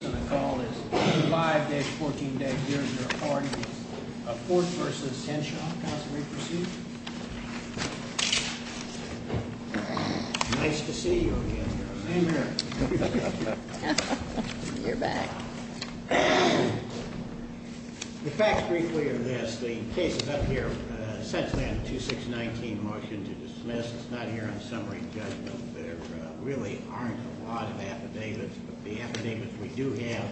The case on the call is 5-14 Deg. Dierdre Hardy v. Henshaw. Counsel, will you proceed? Nice to see you again, Your Honor. Same here. You're back. The facts, briefly, are this. The case is up here. Essentially, I have a 2-6-19 motion to dismiss. It's not here on summary judgment. There really aren't a lot of affidavits, but the affidavits we do have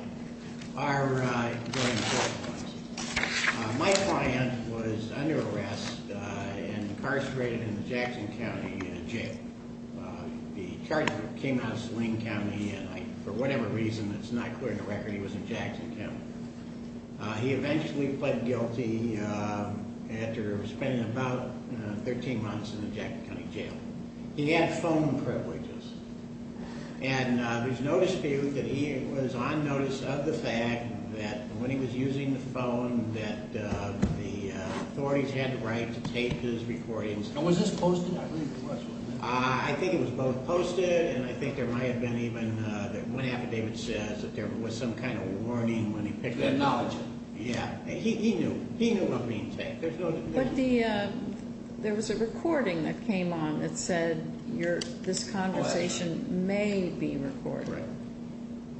are going to court. My client was under arrest and incarcerated in Jackson County Jail. The charge came out of Saline County, and for whatever reason that's not clear in the record, he was in Jackson County. He eventually pled guilty after spending about 13 months in the Jackson County Jail. He had phone privileges, and there's no dispute that he was on notice of the fact that when he was using the phone, that the authorities had the right to tape his recordings. And was this posted? I read the question. I think it was both posted, and I think there might have been even one affidavit says that there was some kind of warning when he picked up the phone. You acknowledge it? Yeah. He knew. He knew about being taped. But there was a recording that came on that said this conversation may be recorded. Right.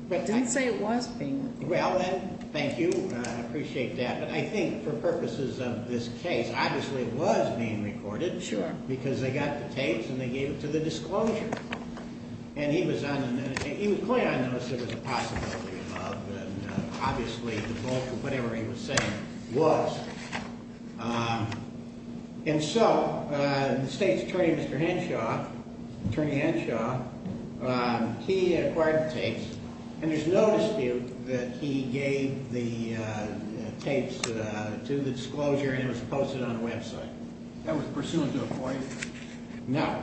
But it didn't say it was being recorded. Well, thank you. I appreciate that. But I think for purposes of this case, obviously it was being recorded. Sure. Because they got the tapes and they gave it to the disclosure. And he was clear on the possibility of love, and obviously the bulk of whatever he was saying was. And so the state's attorney, Mr. Henshaw, he acquired the tapes, and there's no dispute that he gave the tapes to the disclosure and it was posted on the website. That was pursuant to a point? No.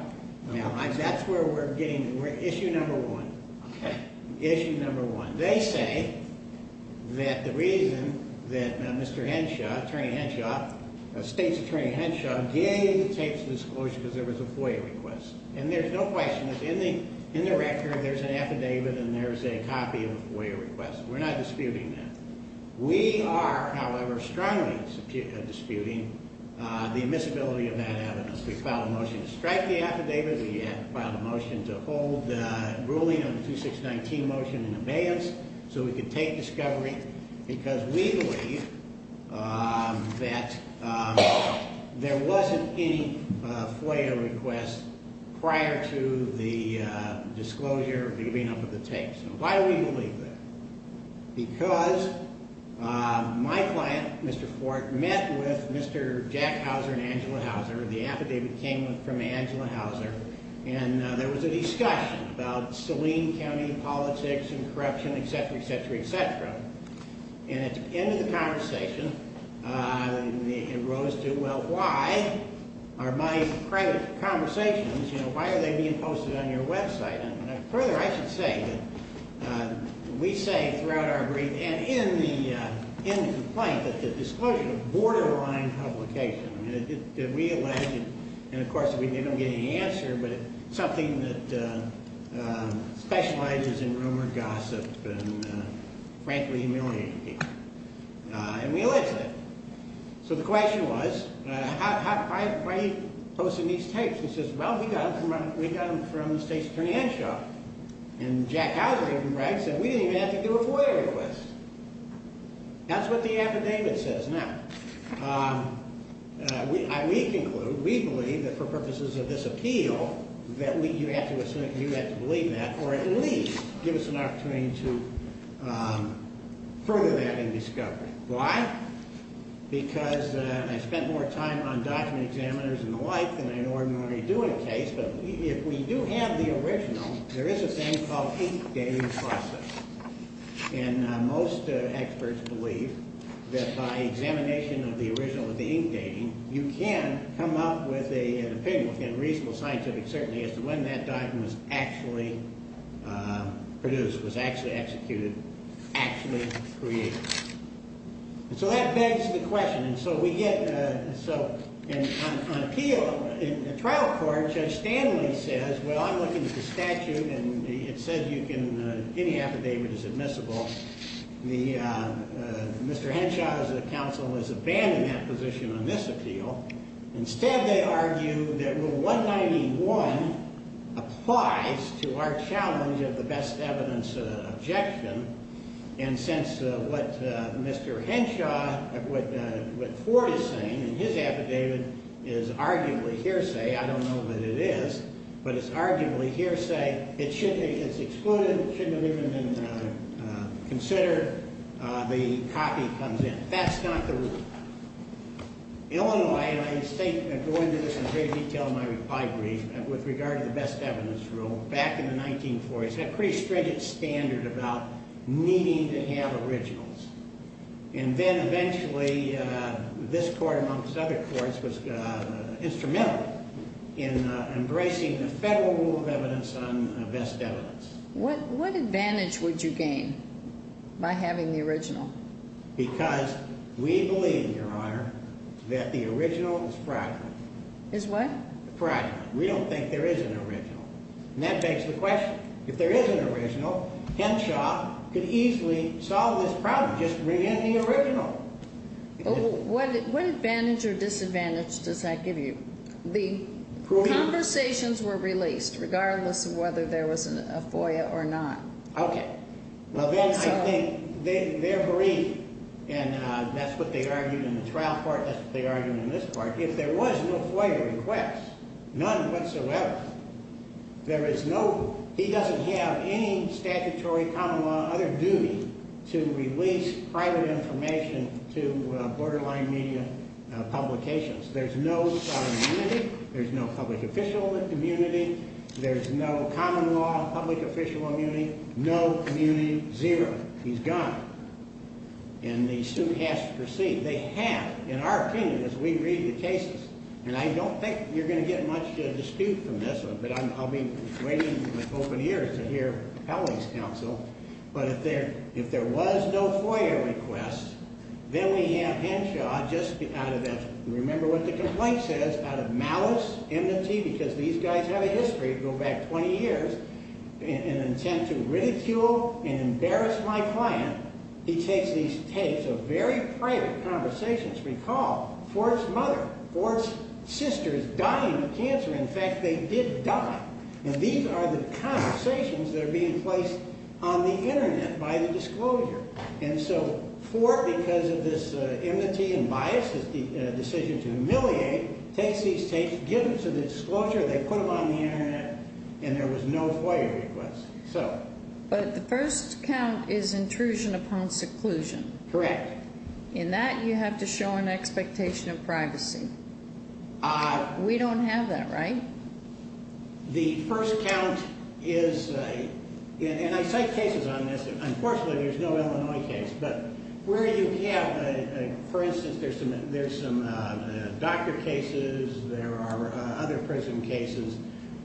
No. That's where we're getting, issue number one. Okay. Issue number one. They say that the reason that Mr. Henshaw, attorney Henshaw, state's attorney Henshaw gave the tapes to disclosure because there was a FOIA request. And there's no question that in the record there's an affidavit and there's a copy of a FOIA request. We're not disputing that. We are, however, strongly disputing the admissibility of that evidence. We filed a motion to strike the affidavit. We filed a motion to hold the ruling on the 2619 motion in abeyance so we could take discovery because we believe that there wasn't any FOIA request prior to the disclosure of giving up the tapes. Why do we believe that? Because my client, Mr. Fork, met with Mr. Jackhauser and Angela Hauser. The affidavit came from Angela Hauser. And there was a discussion about Saline County politics and corruption, et cetera, et cetera, et cetera. And at the end of the conversation, it rose to, well, why are my private conversations, you know, why are they being posted on your website? And further, I should say that we say throughout our brief and in the complaint that the disclosure of borderline publication, I mean, did we allege it? And, of course, we don't get any answer, but it's something that specializes in rumored gossip and frankly humiliating people. And we allege that. So the question was, why are you posting these tapes? And he says, well, we got them from the state's financial. And Jackhauser, if I'm right, said we didn't even have to do a FOIA request. That's what the affidavit says. Now, we conclude, we believe that for purposes of this appeal that you have to believe that or at least give us an opportunity to further that in discovery. Why? Because I spent more time on document examiners and the like than I normally do in a case, but if we do have the original, there is a thing called ink dating process. And most experts believe that by examination of the original with the ink dating, you can come up with an opinion within reasonable scientific certainty as to when that document was actually produced, was actually executed, actually created. So that begs the question. And so we get, so on appeal, in trial court, Judge Stanley says, well, I'm looking at the statute and it says you can, any affidavit is admissible. Mr. Henshaw, as a counsel, has abandoned that position on this appeal. Instead, they argue that Rule 191 applies to our challenge of the best evidence objection. And since what Mr. Henshaw, what Ford is saying in his affidavit is arguably hearsay, I don't know that it is, but it's arguably hearsay, it's excluded, shouldn't have even been considered, the copy comes in. That's not the rule. Illinois, and I go into this in great detail in my reply brief, with regard to the best evidence rule, back in the 1940s, had a pretty stringent standard about needing to have originals. And then eventually, this court, amongst other courts, was instrumental in embracing the federal rule of evidence on best evidence. What advantage would you gain by having the original? Because we believe, Your Honor, that the original is practical. Is what? Practical. We don't think there is an original. And that begs the question. If there is an original, Henshaw could easily solve this problem, just bring in the original. What advantage or disadvantage does that give you? The conversations were released, regardless of whether there was a FOIA or not. Okay. Well, then I think they're bereaved, and that's what they argued in the trial part, that's what they argued in this part. If there was no FOIA request, none whatsoever, there is no, he doesn't have any statutory, common law, other duty to release private information to borderline media publications. There's no sovereign immunity, there's no public official immunity, there's no common law, public official immunity, no community, zero. He's gone. And the suit has to proceed. They have, in our opinion, as we read the cases. And I don't think you're going to get much dispute from this, but I'll be waiting with open ears to hear Allie's counsel. But if there was no FOIA request, then we have Henshaw, just out of that, remember what the complaint says, out of malice, enmity, because these guys have a history, go back 20 years, an intent to ridicule and embarrass my client. He takes these tapes of very private conversations. Recall, Ford's mother, Ford's sister is dying of cancer. In fact, they did die. And these are the conversations that are being placed on the Internet by the disclosure. And so Ford, because of this enmity and bias, his decision to humiliate, takes these tapes, gives them to the disclosure, they put them on the Internet, and there was no FOIA request. So. But the first count is intrusion upon seclusion. Correct. In that, you have to show an expectation of privacy. We don't have that, right? The first count is, and I cite cases on this. Unfortunately, there's no Illinois case. But where you have, for instance, there's some doctor cases, there are other prison cases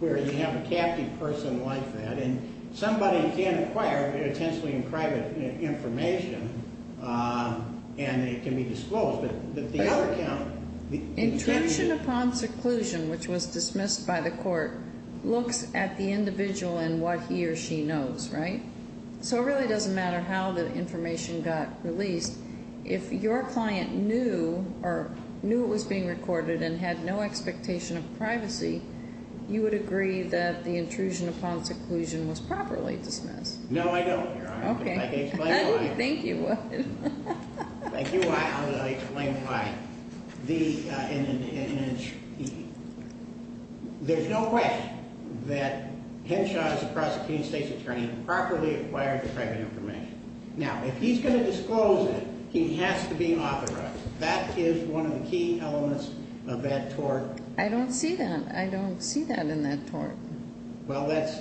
where you have a captive person like that, and somebody can acquire potentially private information, and it can be disclosed. But the other count. Intrusion upon seclusion, which was dismissed by the court, looks at the individual and what he or she knows, right? So it really doesn't matter how the information got released. If your client knew or knew it was being recorded and had no expectation of privacy, you would agree that the intrusion upon seclusion was properly dismissed. No, I don't, Your Honor. Okay. I can explain why. I didn't think you would. Thank you. I'll explain why. There's no question that Henshaw is a prosecuting state's attorney and properly acquired the private information. Now, if he's going to disclose it, he has to be authorized. That is one of the key elements of that tort. I don't see that. I don't see that in that tort. Well, that's...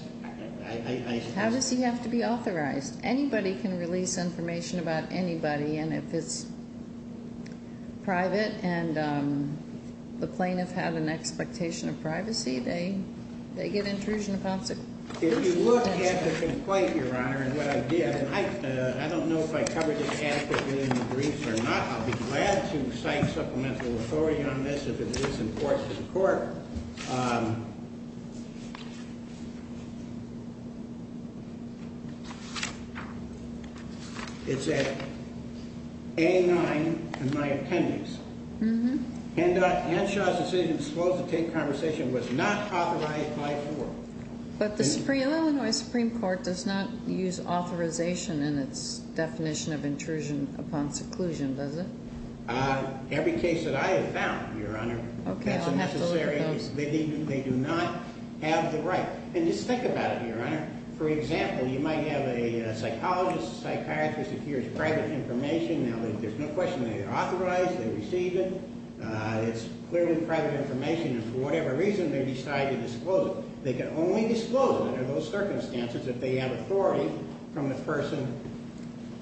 How does he have to be authorized? Anybody can release information about anybody, and if it's private and the plaintiff had an expectation of privacy, they get intrusion upon seclusion. If you look at the complaint, Your Honor, and what I did, and I don't know if I covered it adequately in the briefs or not. I'll be glad to cite supplemental authority on this if it is important to the court. It's at A-9 in my appendix. Mm-hmm. Henshaw's decision to disclose and take conversation was not authorized by court. But the Illinois Supreme Court does not use authorization in its definition of intrusion upon seclusion, does it? Every case that I have found, Your Honor, that's a necessary... Okay, I'll have to look at those. They do not have the right. And just think about it, Your Honor. For example, you might have a psychologist, a psychiatrist, who hears private information. Now, there's no question they authorize, they receive it. It's clearly private information, and for whatever reason, they decide to disclose it. They can only disclose it under those circumstances if they have authority from the person.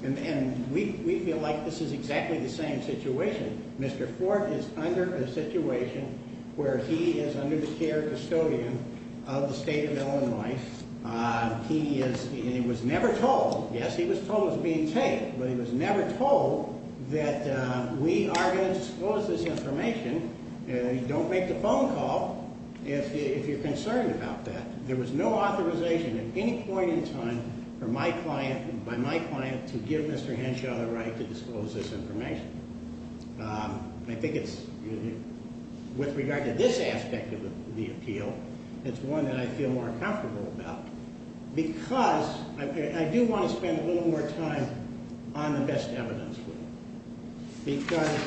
And we feel like this is exactly the same situation. Mr. Ford is under a situation where he is under the care of a custodian of the state of Illinois. He was never told. Yes, he was told he was being taken, but he was never told that we are going to disclose this information. Don't make the phone call if you're concerned about that. There was no authorization at any point in time by my client to give Mr. Henshaw the right to disclose this information. I think it's with regard to this aspect of the appeal, it's one that I feel more comfortable about. Because I do want to spend a little more time on the best evidence. Because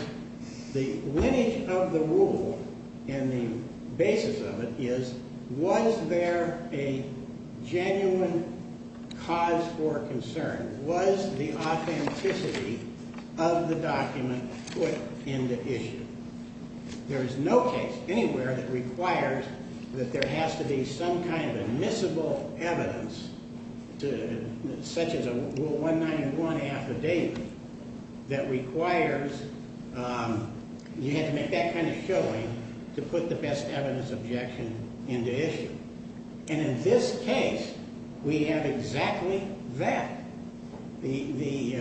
the lineage of the rule and the basis of it is, was there a genuine cause for concern? Was the authenticity of the document put into issue? There is no case anywhere that requires that there has to be some kind of admissible evidence, such as a 191 affidavit, that requires you have to make that kind of showing to put the best evidence objection into issue. And in this case, we have exactly that. The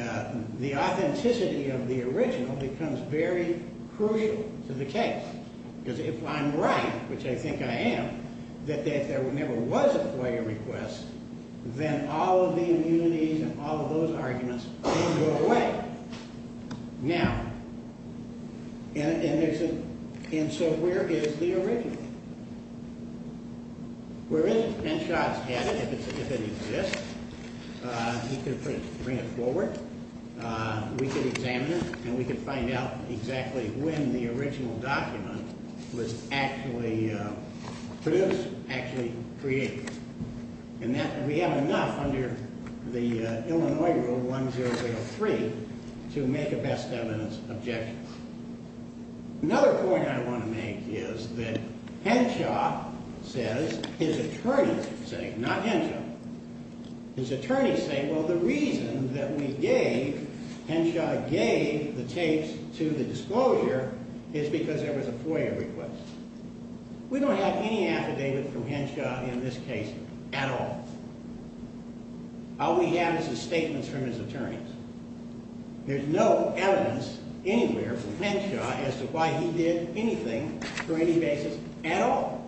authenticity of the original becomes very crucial to the case. Because if I'm right, which I think I am, that if there never was a FOIA request, then all of the immunities and all of those arguments can go away. Now, and so where is the original? Where is it? Henshaw has had it. If it exists, he can bring it forward. We can examine it, and we can find out exactly when the original document was actually produced, actually created. And that, we have enough under the Illinois Rule 1003 to make a best evidence objection. Another point I want to make is that Henshaw says, his attorneys say, not Henshaw, his attorneys say, well, the reason that we gave, Henshaw gave the tapes to the disclosure is because there was a FOIA request. We don't have any affidavit from Henshaw in this case at all. All we have is the statements from his attorneys. There's no evidence anywhere from Henshaw as to why he did anything for any basis at all.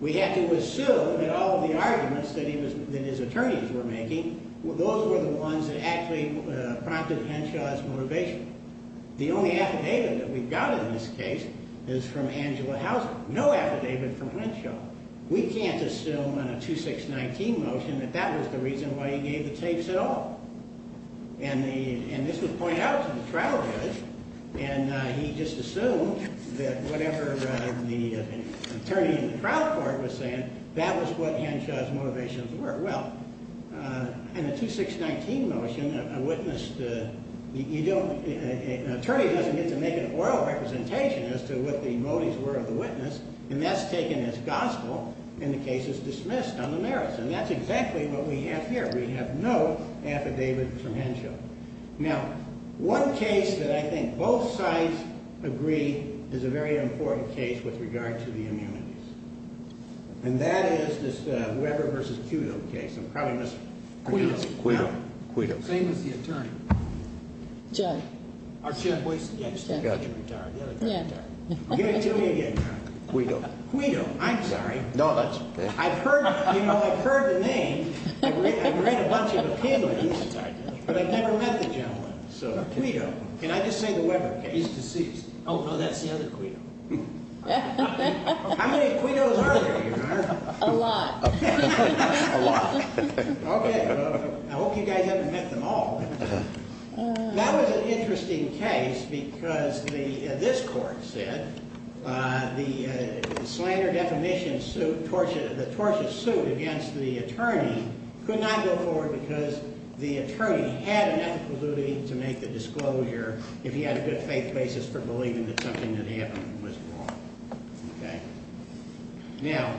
We have to assume that all of the arguments that his attorneys were making, those were the ones that actually prompted Henshaw's motivation. The only affidavit that we've got in this case is from Angela Houser, no affidavit from Henshaw. We can't assume on a 2619 motion that that was the reason why he gave the tapes at all. And this was pointed out to the trial judge, and he just assumed that whatever the attorney in the trial court was saying, that was what Henshaw's motivations were. Well, in a 2619 motion, an attorney doesn't get to make an oral representation as to what the motives were of the witness, and that's taken as gospel, and the case is dismissed on the merits. And that's exactly what we have here. We have no affidavit from Henshaw. Now, one case that I think both sides agree is a very important case with regard to the immunities, and that is this Weber v. Quito case. I'm probably mispronouncing it. It's Quito. Quito. Same as the attorney. Judge. Our chief of police? Judge. I got you. Give it to me again. Quito. Quito. I'm sorry. No, that's okay. You know, I've heard the name. I've read a bunch of opinions, but I've never met the gentleman. Quito. Can I just say the Weber case? He's deceased. Oh, that's the other Quito. How many Quitos are there, Your Honor? A lot. A lot. Okay. I hope you guys haven't met them all. That was an interesting case because this court said the slander defamation suit, the torture suit against the attorney, could not go forward because the attorney had an ethical duty to make the disclosure if he had a good faith basis for believing that something that happened was wrong. Okay. Now,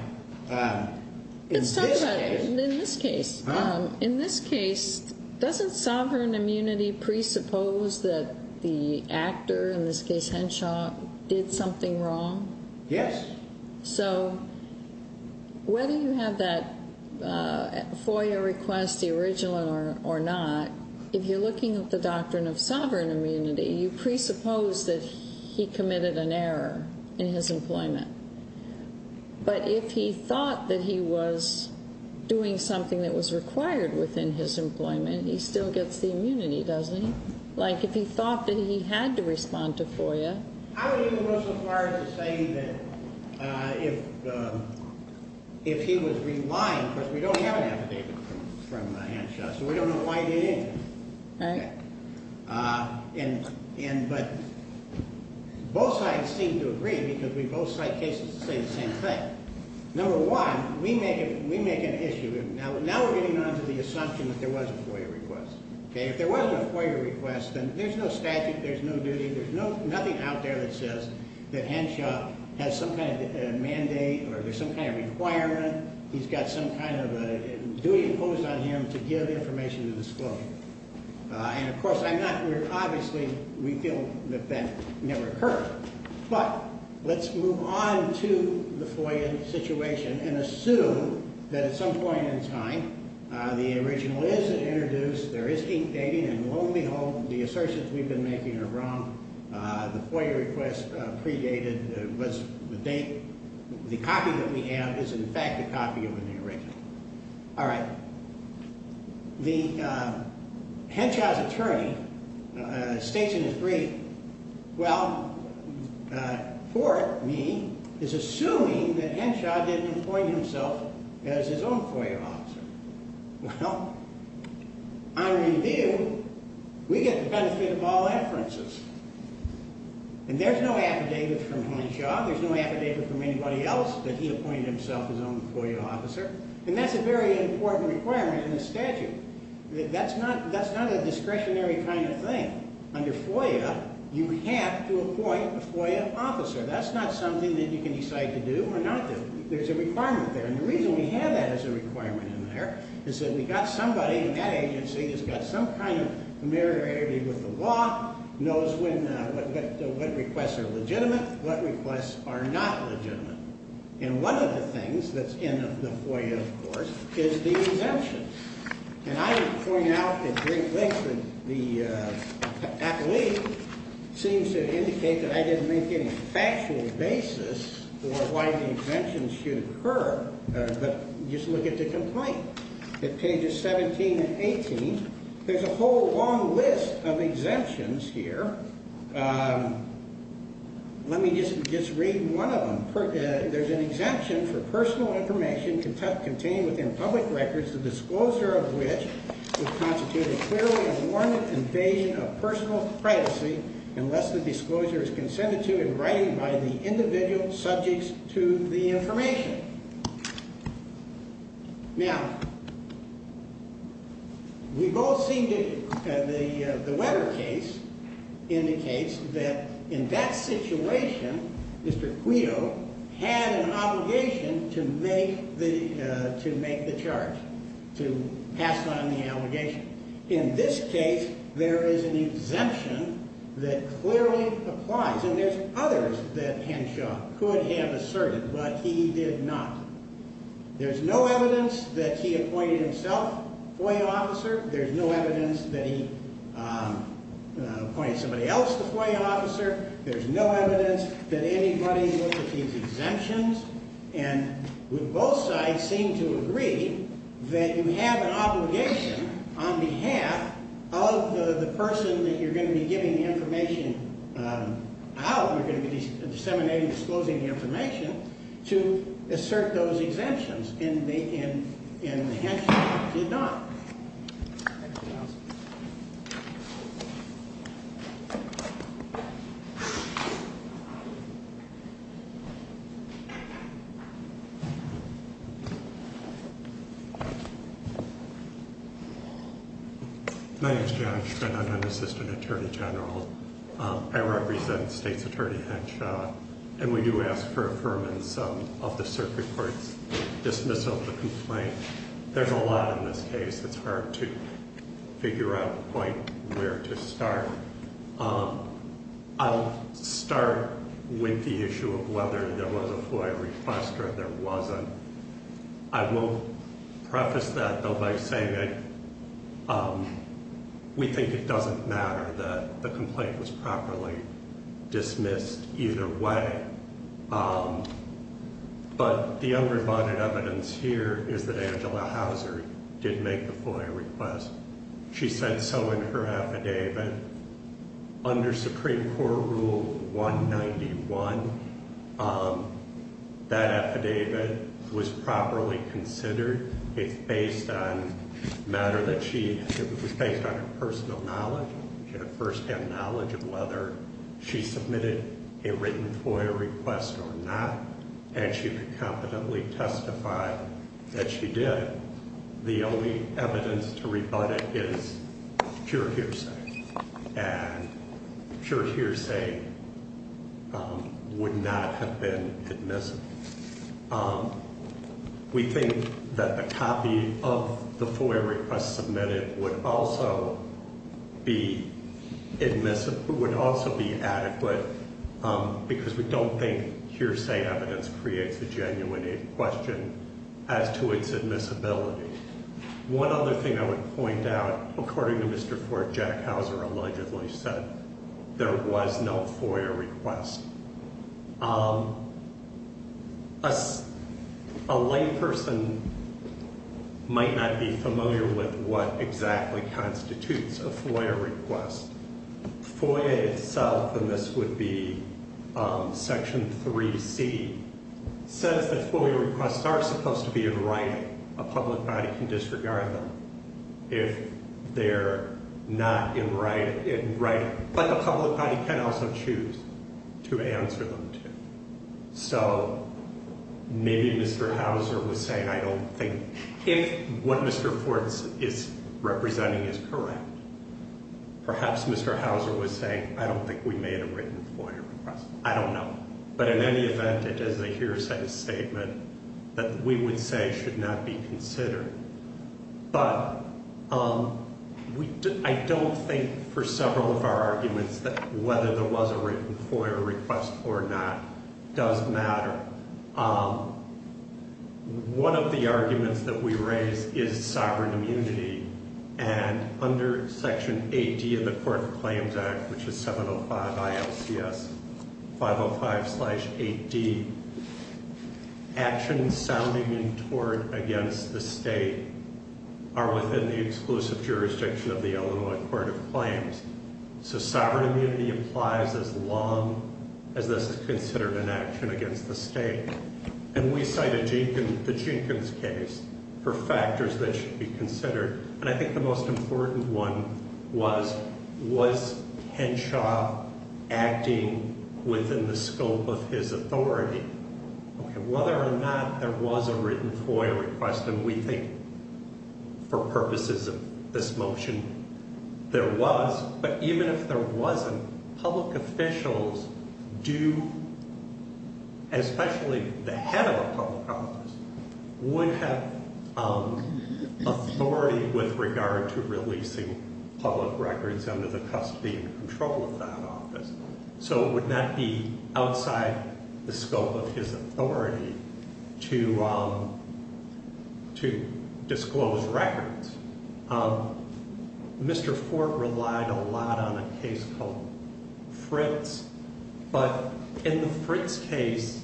in this case. Let's talk about it. In this case. Huh? In this case, doesn't sovereign immunity presuppose that the actor, in this case Henshaw, did something wrong? Yes. So whether you have that FOIA request, the original or not, if you're looking at the doctrine of sovereign immunity, you presuppose that he committed an error in his employment. But if he thought that he was doing something that was required within his employment, he still gets the immunity, doesn't he? Like, if he thought that he had to respond to FOIA. I would even go so far as to say that if he was relying, because we don't have an affidavit from Henshaw, so we don't know why he did anything. Right. But both sides seem to agree because we both cite cases that say the same thing. Number one, we make an issue. Now we're getting onto the assumption that there was a FOIA request. If there wasn't a FOIA request, then there's no statute, there's no duty, there's nothing out there that says that Henshaw has some kind of mandate or there's some kind of requirement. He's got some kind of duty imposed on him to give information to disclose. And, of course, I'm not clear. Obviously, we feel that that never occurred. But let's move on to the FOIA situation and assume that at some point in time the original is introduced, there is ink dating, and lo and behold, the assertions we've been making are wrong. The FOIA request predated the date. The copy that we have is, in fact, a copy of the original. All right. Henshaw's attorney states in his brief, well, for me, is assuming that Henshaw didn't appoint himself as his own FOIA officer. Well, on review, we get the benefit of all inferences. And there's no affidavit from Henshaw. There's no affidavit from anybody else that he appointed himself his own FOIA officer. And that's a very important requirement in the statute. That's not a discretionary kind of thing. Under FOIA, you have to appoint a FOIA officer. That's not something that you can decide to do or not do. There's a requirement there. And the reason we have that as a requirement in there is that we've got somebody in that agency that's got some kind of familiarity with the law, knows what requests are legitimate, what requests are not legitimate. And one of the things that's in the FOIA, of course, is the exemption. And I would point out at great length that the athlete seems to indicate that I didn't make any factual basis for why the exemptions should occur, but just look at the complaint. At pages 17 and 18, there's a whole long list of exemptions here. Let me just read one of them. There's an exemption for personal information contained within public records, the disclosure of which would constitute a clearly warranted invasion of personal privacy, unless the disclosure is consented to in writing by the individual subject to the information. Now, we've all seen the Webber case indicates that in that situation, Mr. Quito had an obligation to make the charge, to pass on the obligation. In this case, there is an exemption that clearly applies. And there's others that Henshaw could have asserted, but he did not. There's no evidence that he appointed himself FOIA officer. There's no evidence that he appointed somebody else the FOIA officer. There's no evidence that anybody looked at these exemptions. And both sides seem to agree that you have an obligation on behalf of the person that you're going to be giving the information out, you're going to be disseminating and disclosing the information, to assert those exemptions. And Henshaw did not. My name's John Schmidt. I'm an assistant attorney general. I represent State's Attorney Henshaw. And we do ask for affirmance of the circuit court's dismissal of the complaint. There's a lot in this case. It's hard to figure out quite where to start. I'll start with the issue of whether there was a FOIA request or there wasn't. I will preface that, though, by saying that we think it doesn't matter that the complaint was properly dismissed either way. But the undervided evidence here is that Angela Hauser did make the FOIA request. She said so in her affidavit. Under Supreme Court Rule 191, that affidavit was properly considered. It was based on her personal knowledge, first-hand knowledge of whether she submitted a written FOIA request or not. And she could competently testify that she did. The only evidence to rebut it is pure hearsay. And pure hearsay would not have been admissible. We think that a copy of the FOIA request submitted would also be admissible, would also be adequate, because we don't think hearsay evidence creates a genuine question as to its admissibility. One other thing I would point out, according to Mr. Ford, Jack Hauser allegedly said there was no FOIA request. A layperson might not be familiar with what exactly constitutes a FOIA request. FOIA itself, and this would be Section 3C, says that FOIA requests are supposed to be in writing. A public body can disregard them if they're not in writing. But the public body can also choose to answer them to. So maybe Mr. Hauser was saying I don't think if what Mr. Ford is representing is correct, perhaps Mr. Hauser was saying I don't think we made a written FOIA request. I don't know. But in any event, it is a hearsay statement that we would say should not be considered. But I don't think for several of our arguments that whether there was a written FOIA request or not does matter. One of the arguments that we raise is sovereign immunity. And under Section 8D of the Court of Claims Act, which is 705 ILCS 505-8D, actions sounding in tort against the state are within the exclusive jurisdiction of the Illinois Court of Claims. So sovereign immunity applies as long as this is considered an action against the state. And we cite the Jenkins case for factors that should be considered. And I think the most important one was, was Henshaw acting within the scope of his authority? Whether or not there was a written FOIA request, and we think for purposes of this motion there was, but even if there wasn't, public officials do, especially the head of a public office, would have authority with regard to releasing public records under the custody and control of that office. So it would not be outside the scope of his authority to disclose records. Mr. Fort relied a lot on a case called Fritz. But in the Fritz case,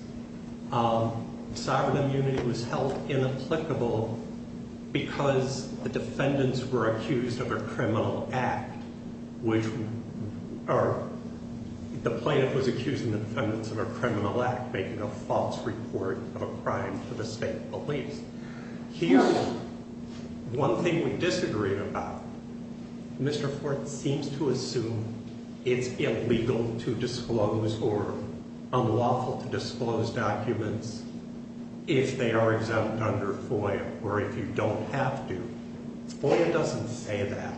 sovereign immunity was held inapplicable because the defendants were accused of a criminal act, which the plaintiff was accusing the defendants of a criminal act, making a false report of a crime to the state police. Here's one thing we disagree about. Mr. Fort seems to assume it's illegal to disclose or unlawful to disclose documents if they are exempt under FOIA, or if you don't have to. FOIA doesn't say that.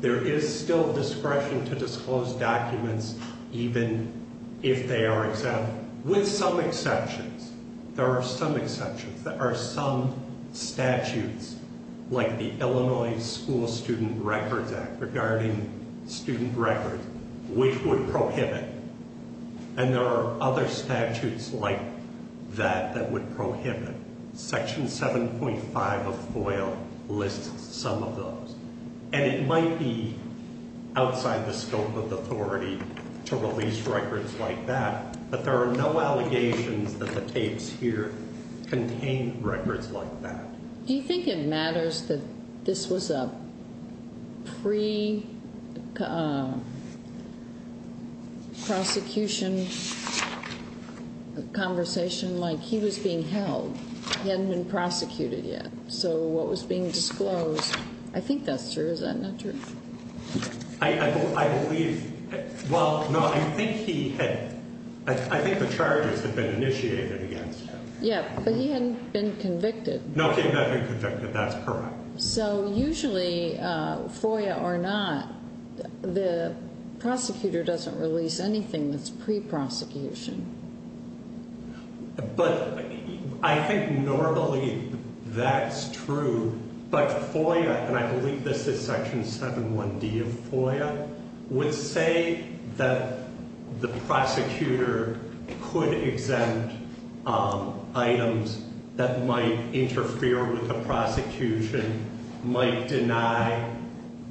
There is still discretion to disclose documents even if they are exempt, with some exceptions. There are some exceptions. There are some statutes, like the Illinois School Student Records Act, regarding student records, which would prohibit. And there are other statutes like that that would prohibit. Section 7.5 of FOIA lists some of those. And it might be outside the scope of authority to release records like that, but there are no allegations that the tapes here contain records like that. Do you think it matters that this was a pre-prosecution conversation? Like he was being held. He hadn't been prosecuted yet. So what was being disclosed, I think that's true. Is that not true? I believe, well, no, I think he had, I think the charges had been initiated against him. Yeah, but he hadn't been convicted. No, he had not been convicted. That's correct. So usually, FOIA or not, the prosecutor doesn't release anything that's pre-prosecution. But I think normally that's true, but FOIA, and I believe this is Section 7.1D of FOIA, would say that the prosecutor could exempt items that might interfere with the prosecution, might deny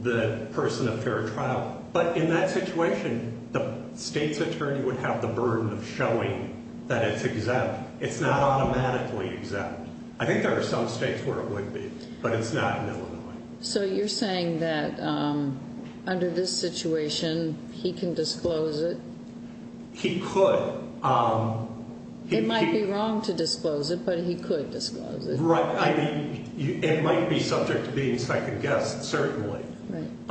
the person a fair trial. But in that situation, the state's attorney would have the burden of showing that it's exempt. It's not automatically exempt. I think there are some states where it would be, but it's not in Illinois. So you're saying that under this situation, he can disclose it? He could. It might be wrong to disclose it, but he could disclose it. Right, I mean, it might be subject to being second-guessed, certainly. Right.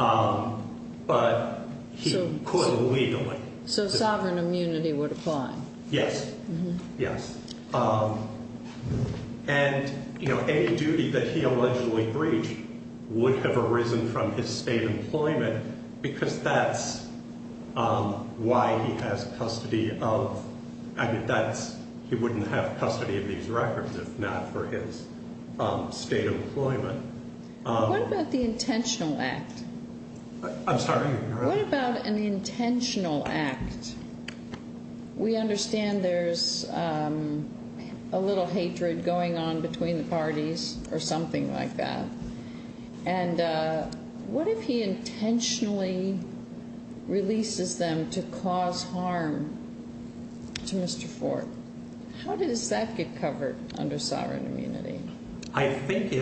But he could legally. So sovereign immunity would apply. Yes, yes. And, you know, any duty that he allegedly breached would have arisen from his state employment because that's why he has custody of, I mean, that's, he wouldn't have custody of these records if not for his state employment. What about the intentional act? I'm sorry? What about an intentional act? We understand there's a little hatred going on between the parties or something like that. And what if he intentionally releases them to cause harm to Mr. Ford? How does that get covered under sovereign immunity? I think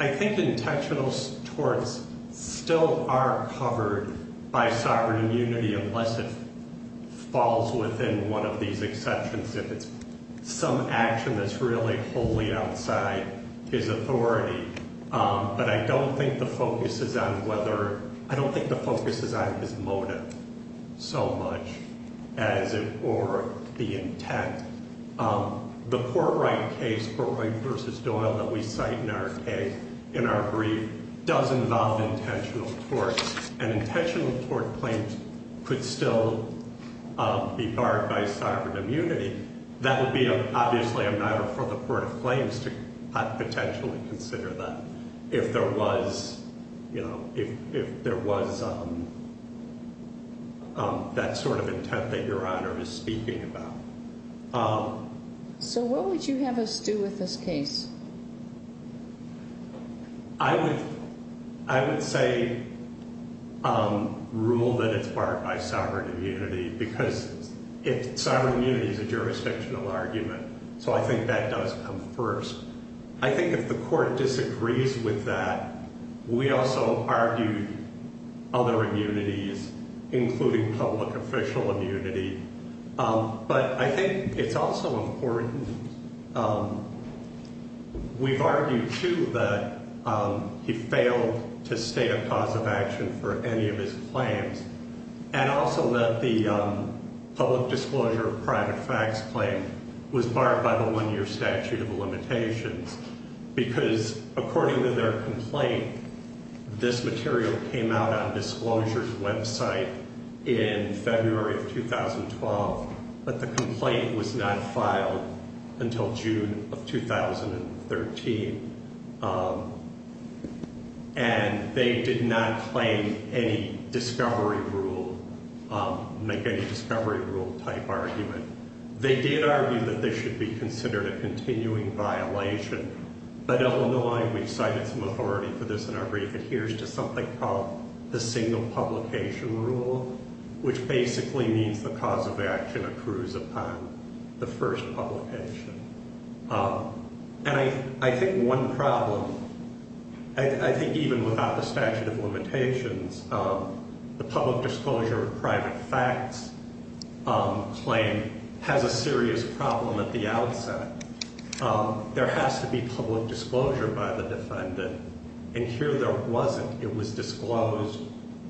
intentional torts still are covered by sovereign immunity unless it falls within one of these exceptions. If it's some action that's really wholly outside his authority. But I don't think the focus is on whether, I don't think the focus is on his motive so much as it, or the intent. The Port Wright case, Port Wright v. Doyle, that we cite in our case, in our brief, does involve intentional torts. And intentional tort claims could still be barred by sovereign immunity. That would be obviously a matter for the court of claims to potentially consider that if there was, you know, if there was that sort of intent that Your Honor is speaking about. So what would you have us do with this case? I would, I would say rule that it's barred by sovereign immunity because sovereign immunity is a jurisdictional argument. So I think that does come first. I think if the court disagrees with that, we also argue other immunities, including public official immunity. But I think it's also important, we've argued too that he failed to state a cause of action for any of his claims. And also that the public disclosure of private facts claim was barred by the one-year statute of limitations. Because according to their complaint, this material came out on Disclosure's website in February of 2012. But the complaint was not filed until June of 2013. And they did not claim any discovery rule, make any discovery rule type argument. They did argue that this should be considered a continuing violation. But Illinois, we've cited some authority for this in our brief, adheres to something called the single publication rule, which basically means the cause of action accrues upon the first publication. And I think one problem, I think even without the statute of limitations, the public disclosure of private facts claim has a serious problem at the outset. There has to be public disclosure by the defendant. And here there wasn't. It was disclosed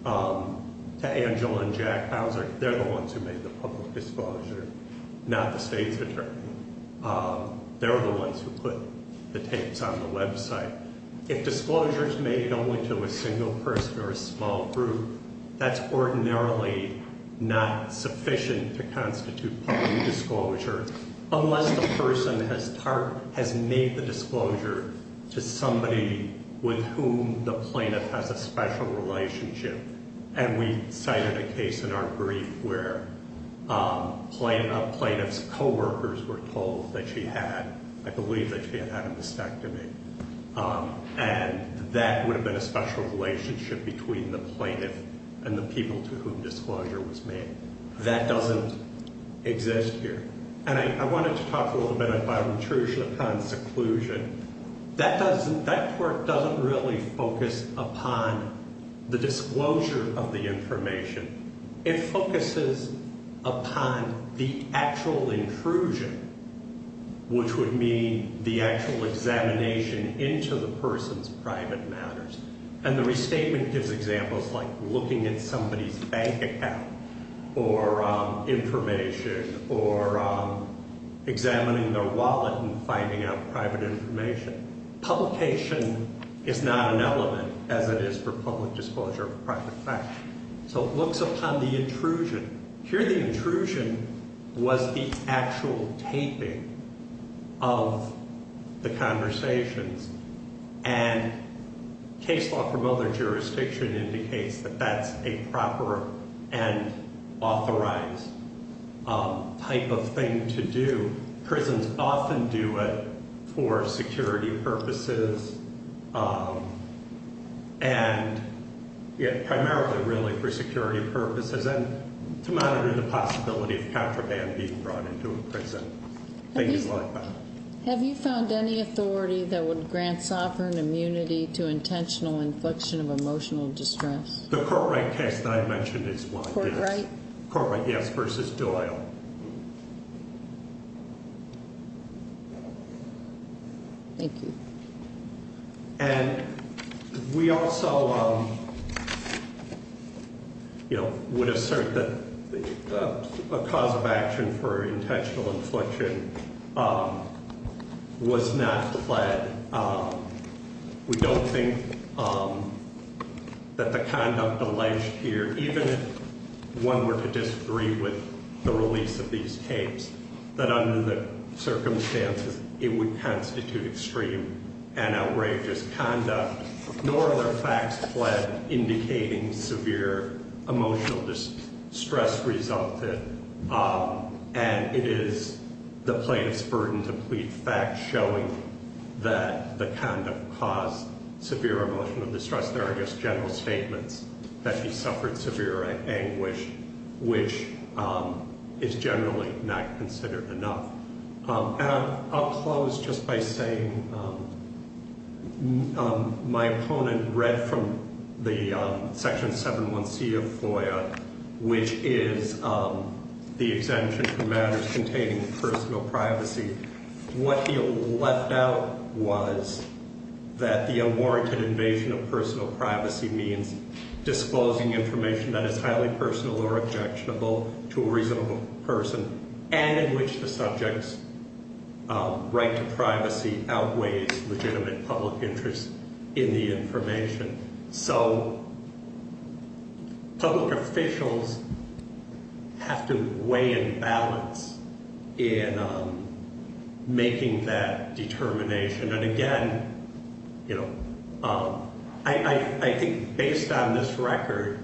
to Angela and Jack Bowser. They're the ones who made the public disclosure, not the state's attorney. They're the ones who put the tapes on the website. If disclosure's made only to a single person or a small group, that's ordinarily not sufficient to constitute public disclosure, unless the person has made the disclosure to somebody with whom the plaintiff has a special relationship. And we cited a case in our brief where a plaintiff's coworkers were told that she had, I believe that she had had a mastectomy. And that would have been a special relationship between the plaintiff and the people to whom disclosure was made. That doesn't exist here. And I wanted to talk a little bit about intrusion upon seclusion. That doesn't, that court doesn't really focus upon the disclosure of the information. It focuses upon the actual intrusion, which would mean the actual examination into the person's private matters. And the restatement gives examples like looking at somebody's bank account or information or examining their wallet and finding out private information. Publication is not an element, as it is for public disclosure of private facts. So it looks upon the intrusion. Here the intrusion was the actual taping of the conversations. And case law from other jurisdictions indicates that that's a proper and authorized type of thing to do. Prisons often do it for security purposes and, yeah, primarily really for security purposes and to monitor the possibility of contraband being brought into a prison, things like that. Have you found any authority that would grant sovereign immunity to intentional infliction of emotional distress? The court right case that I mentioned is one of those. Court right? Court right, yes, versus Doyle. Thank you. And we also, you know, would assert that a cause of action for intentional infliction was not fled. And we don't think that the conduct alleged here, even if one were to disagree with the release of these tapes, that under the circumstances it would constitute extreme and outrageous conduct. Nor are there facts fled indicating severe emotional distress resulted. And it is the plaintiff's burden to plead facts showing that the conduct caused severe emotional distress. There are just general statements that he suffered severe anguish, which is generally not considered enough. And I'll close just by saying my opponent read from the Section 7.1c of FOIA, which is the exemption for matters containing personal privacy. What he left out was that the unwarranted invasion of personal privacy means disposing information that is highly personal or objectionable to a reasonable person and in which the subject's right to privacy outweighs legitimate public interest in the information. So public officials have to weigh and balance in making that determination. And again, you know, I think based on this record,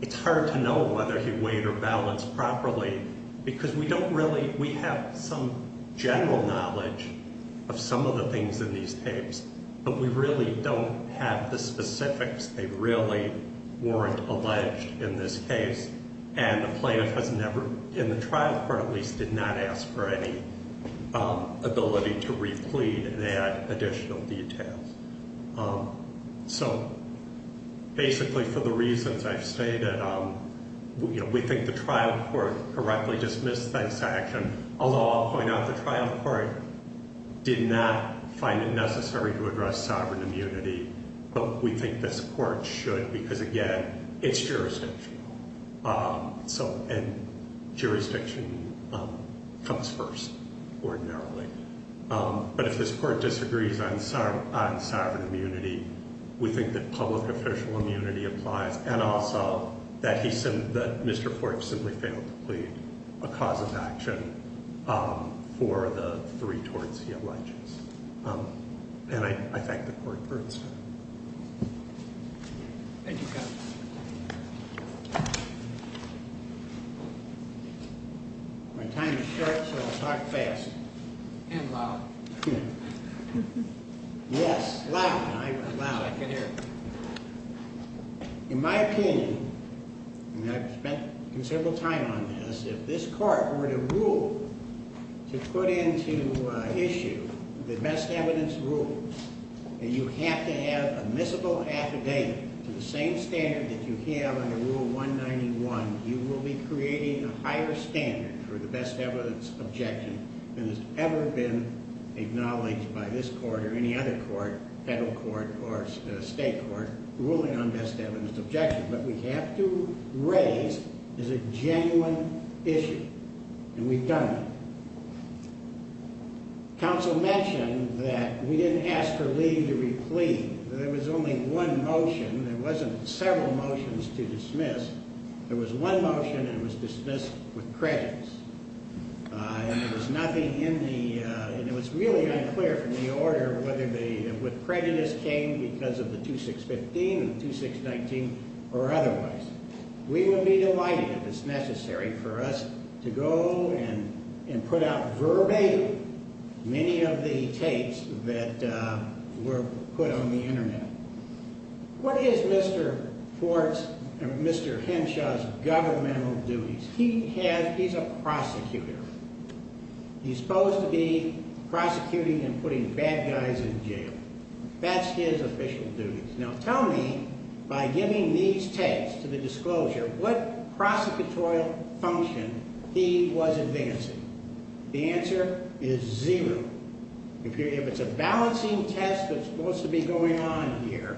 it's hard to know whether he weighed or balanced properly because we don't really, we have some general knowledge of some of the things in these tapes, but we really don't have the specifics. They really weren't alleged in this case, and the plaintiff has never, in the trial court at least, did not ask for any ability to replete and add additional details. So basically for the reasons I've stated, we think the trial court correctly dismissed that section, although I'll point out the trial court did not find it necessary to address sovereign immunity, but we think this court should because, again, it's jurisdictional. So, and jurisdiction comes first ordinarily. But if this court disagrees on sovereign immunity, we think that public official immunity applies and also that he, that Mr. Forks simply failed to plead a cause of action for the three torts he alleges. And I thank the court for its time. Thank you, counsel. My time is short, so I'll talk fast. And loud. Yes, loud. I'm loud. So I can hear. In my opinion, and I've spent considerable time on this, if this court were to rule to put into issue the best evidence rule that you have to have admissible affidavit to the same standard that you have under Rule 191, you will be creating a higher standard for the best evidence objection than has ever been acknowledged by this court or any other court, federal court or state court, ruling on best evidence objection. What we have to raise is a genuine issue. And we've done it. Counsel mentioned that we didn't ask for leave to replead. There was only one motion. There wasn't several motions to dismiss. There was one motion and it was dismissed with prejudice. And there was nothing in the... And it was really unclear from the order whether the prejudice came because of the 2615 and the 2619 or otherwise. We would be delighted if it's necessary for us to go and put out verbatim many of the tapes that were put on the Internet. What is Mr. Henshaw's governmental duties? He's a prosecutor. He's supposed to be prosecuting and putting bad guys in jail. That's his official duties. Now, tell me, by giving these tapes to the disclosure, what prosecutorial function he was advancing. The answer is zero. If it's a balancing test that's supposed to be going on here,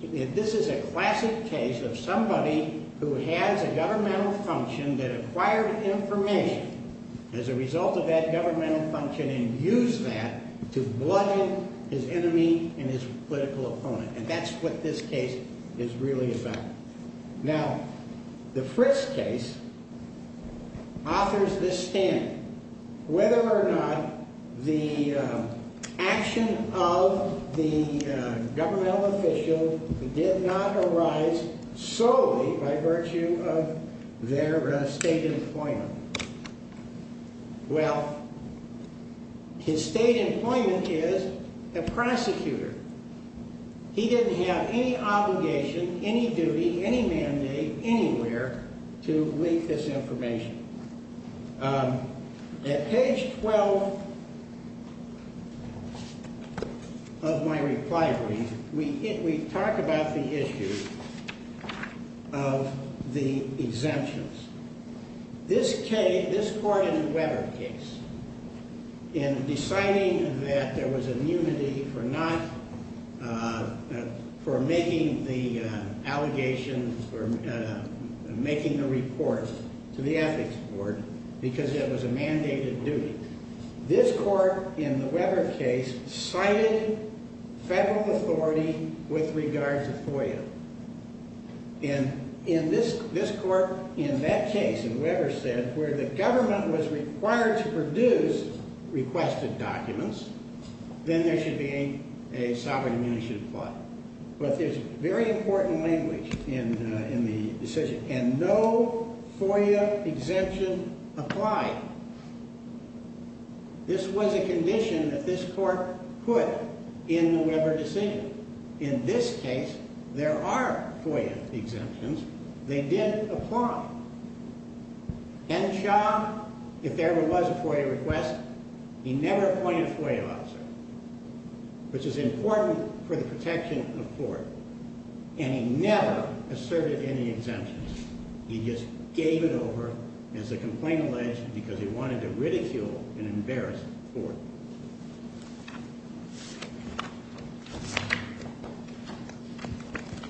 this is a classic case of somebody who has a governmental function that acquired information as a result of that governmental function and used that to bludgeon his enemy and his political opponent. And that's what this case is really about. Now, the Fritz case offers this standard. Whether or not the action of the governmental official did not arise solely by virtue of their state employment. Well, his state employment is a prosecutor. He didn't have any obligation, any duty, any mandate anywhere to leak this information. At page 12 of my reply brief, we talk about the issue of the exemptions. This case, this court in the Weber case, in deciding that there was immunity for not, for making the allegations, for making the report to the ethics board because it was a mandated duty. This court in the Weber case cited federal authority with regards to FOIA. And in this court, in that case, in Weber's case, where the government was required to produce requested documents, then there should be a sovereign immunity to apply. But there's very important language in the decision. And no FOIA exemption applied. This was a condition that this court put in the Weber decision. In this case, there are FOIA exemptions. They did apply. And Shaw, if there ever was a FOIA request, he never appointed a FOIA officer, which is important for the protection of court. And he never asserted any exemptions. He just gave it over, as the complaint alleged, because he wanted to ridicule and embarrass the court.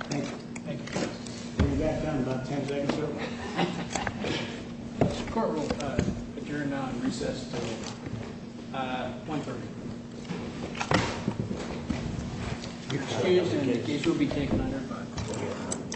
Thank you. Thank you. We'll be back down in about 10 seconds, certainly. The court will adjourn now and recess until 1.30. Excuse me. The case will be taken under five.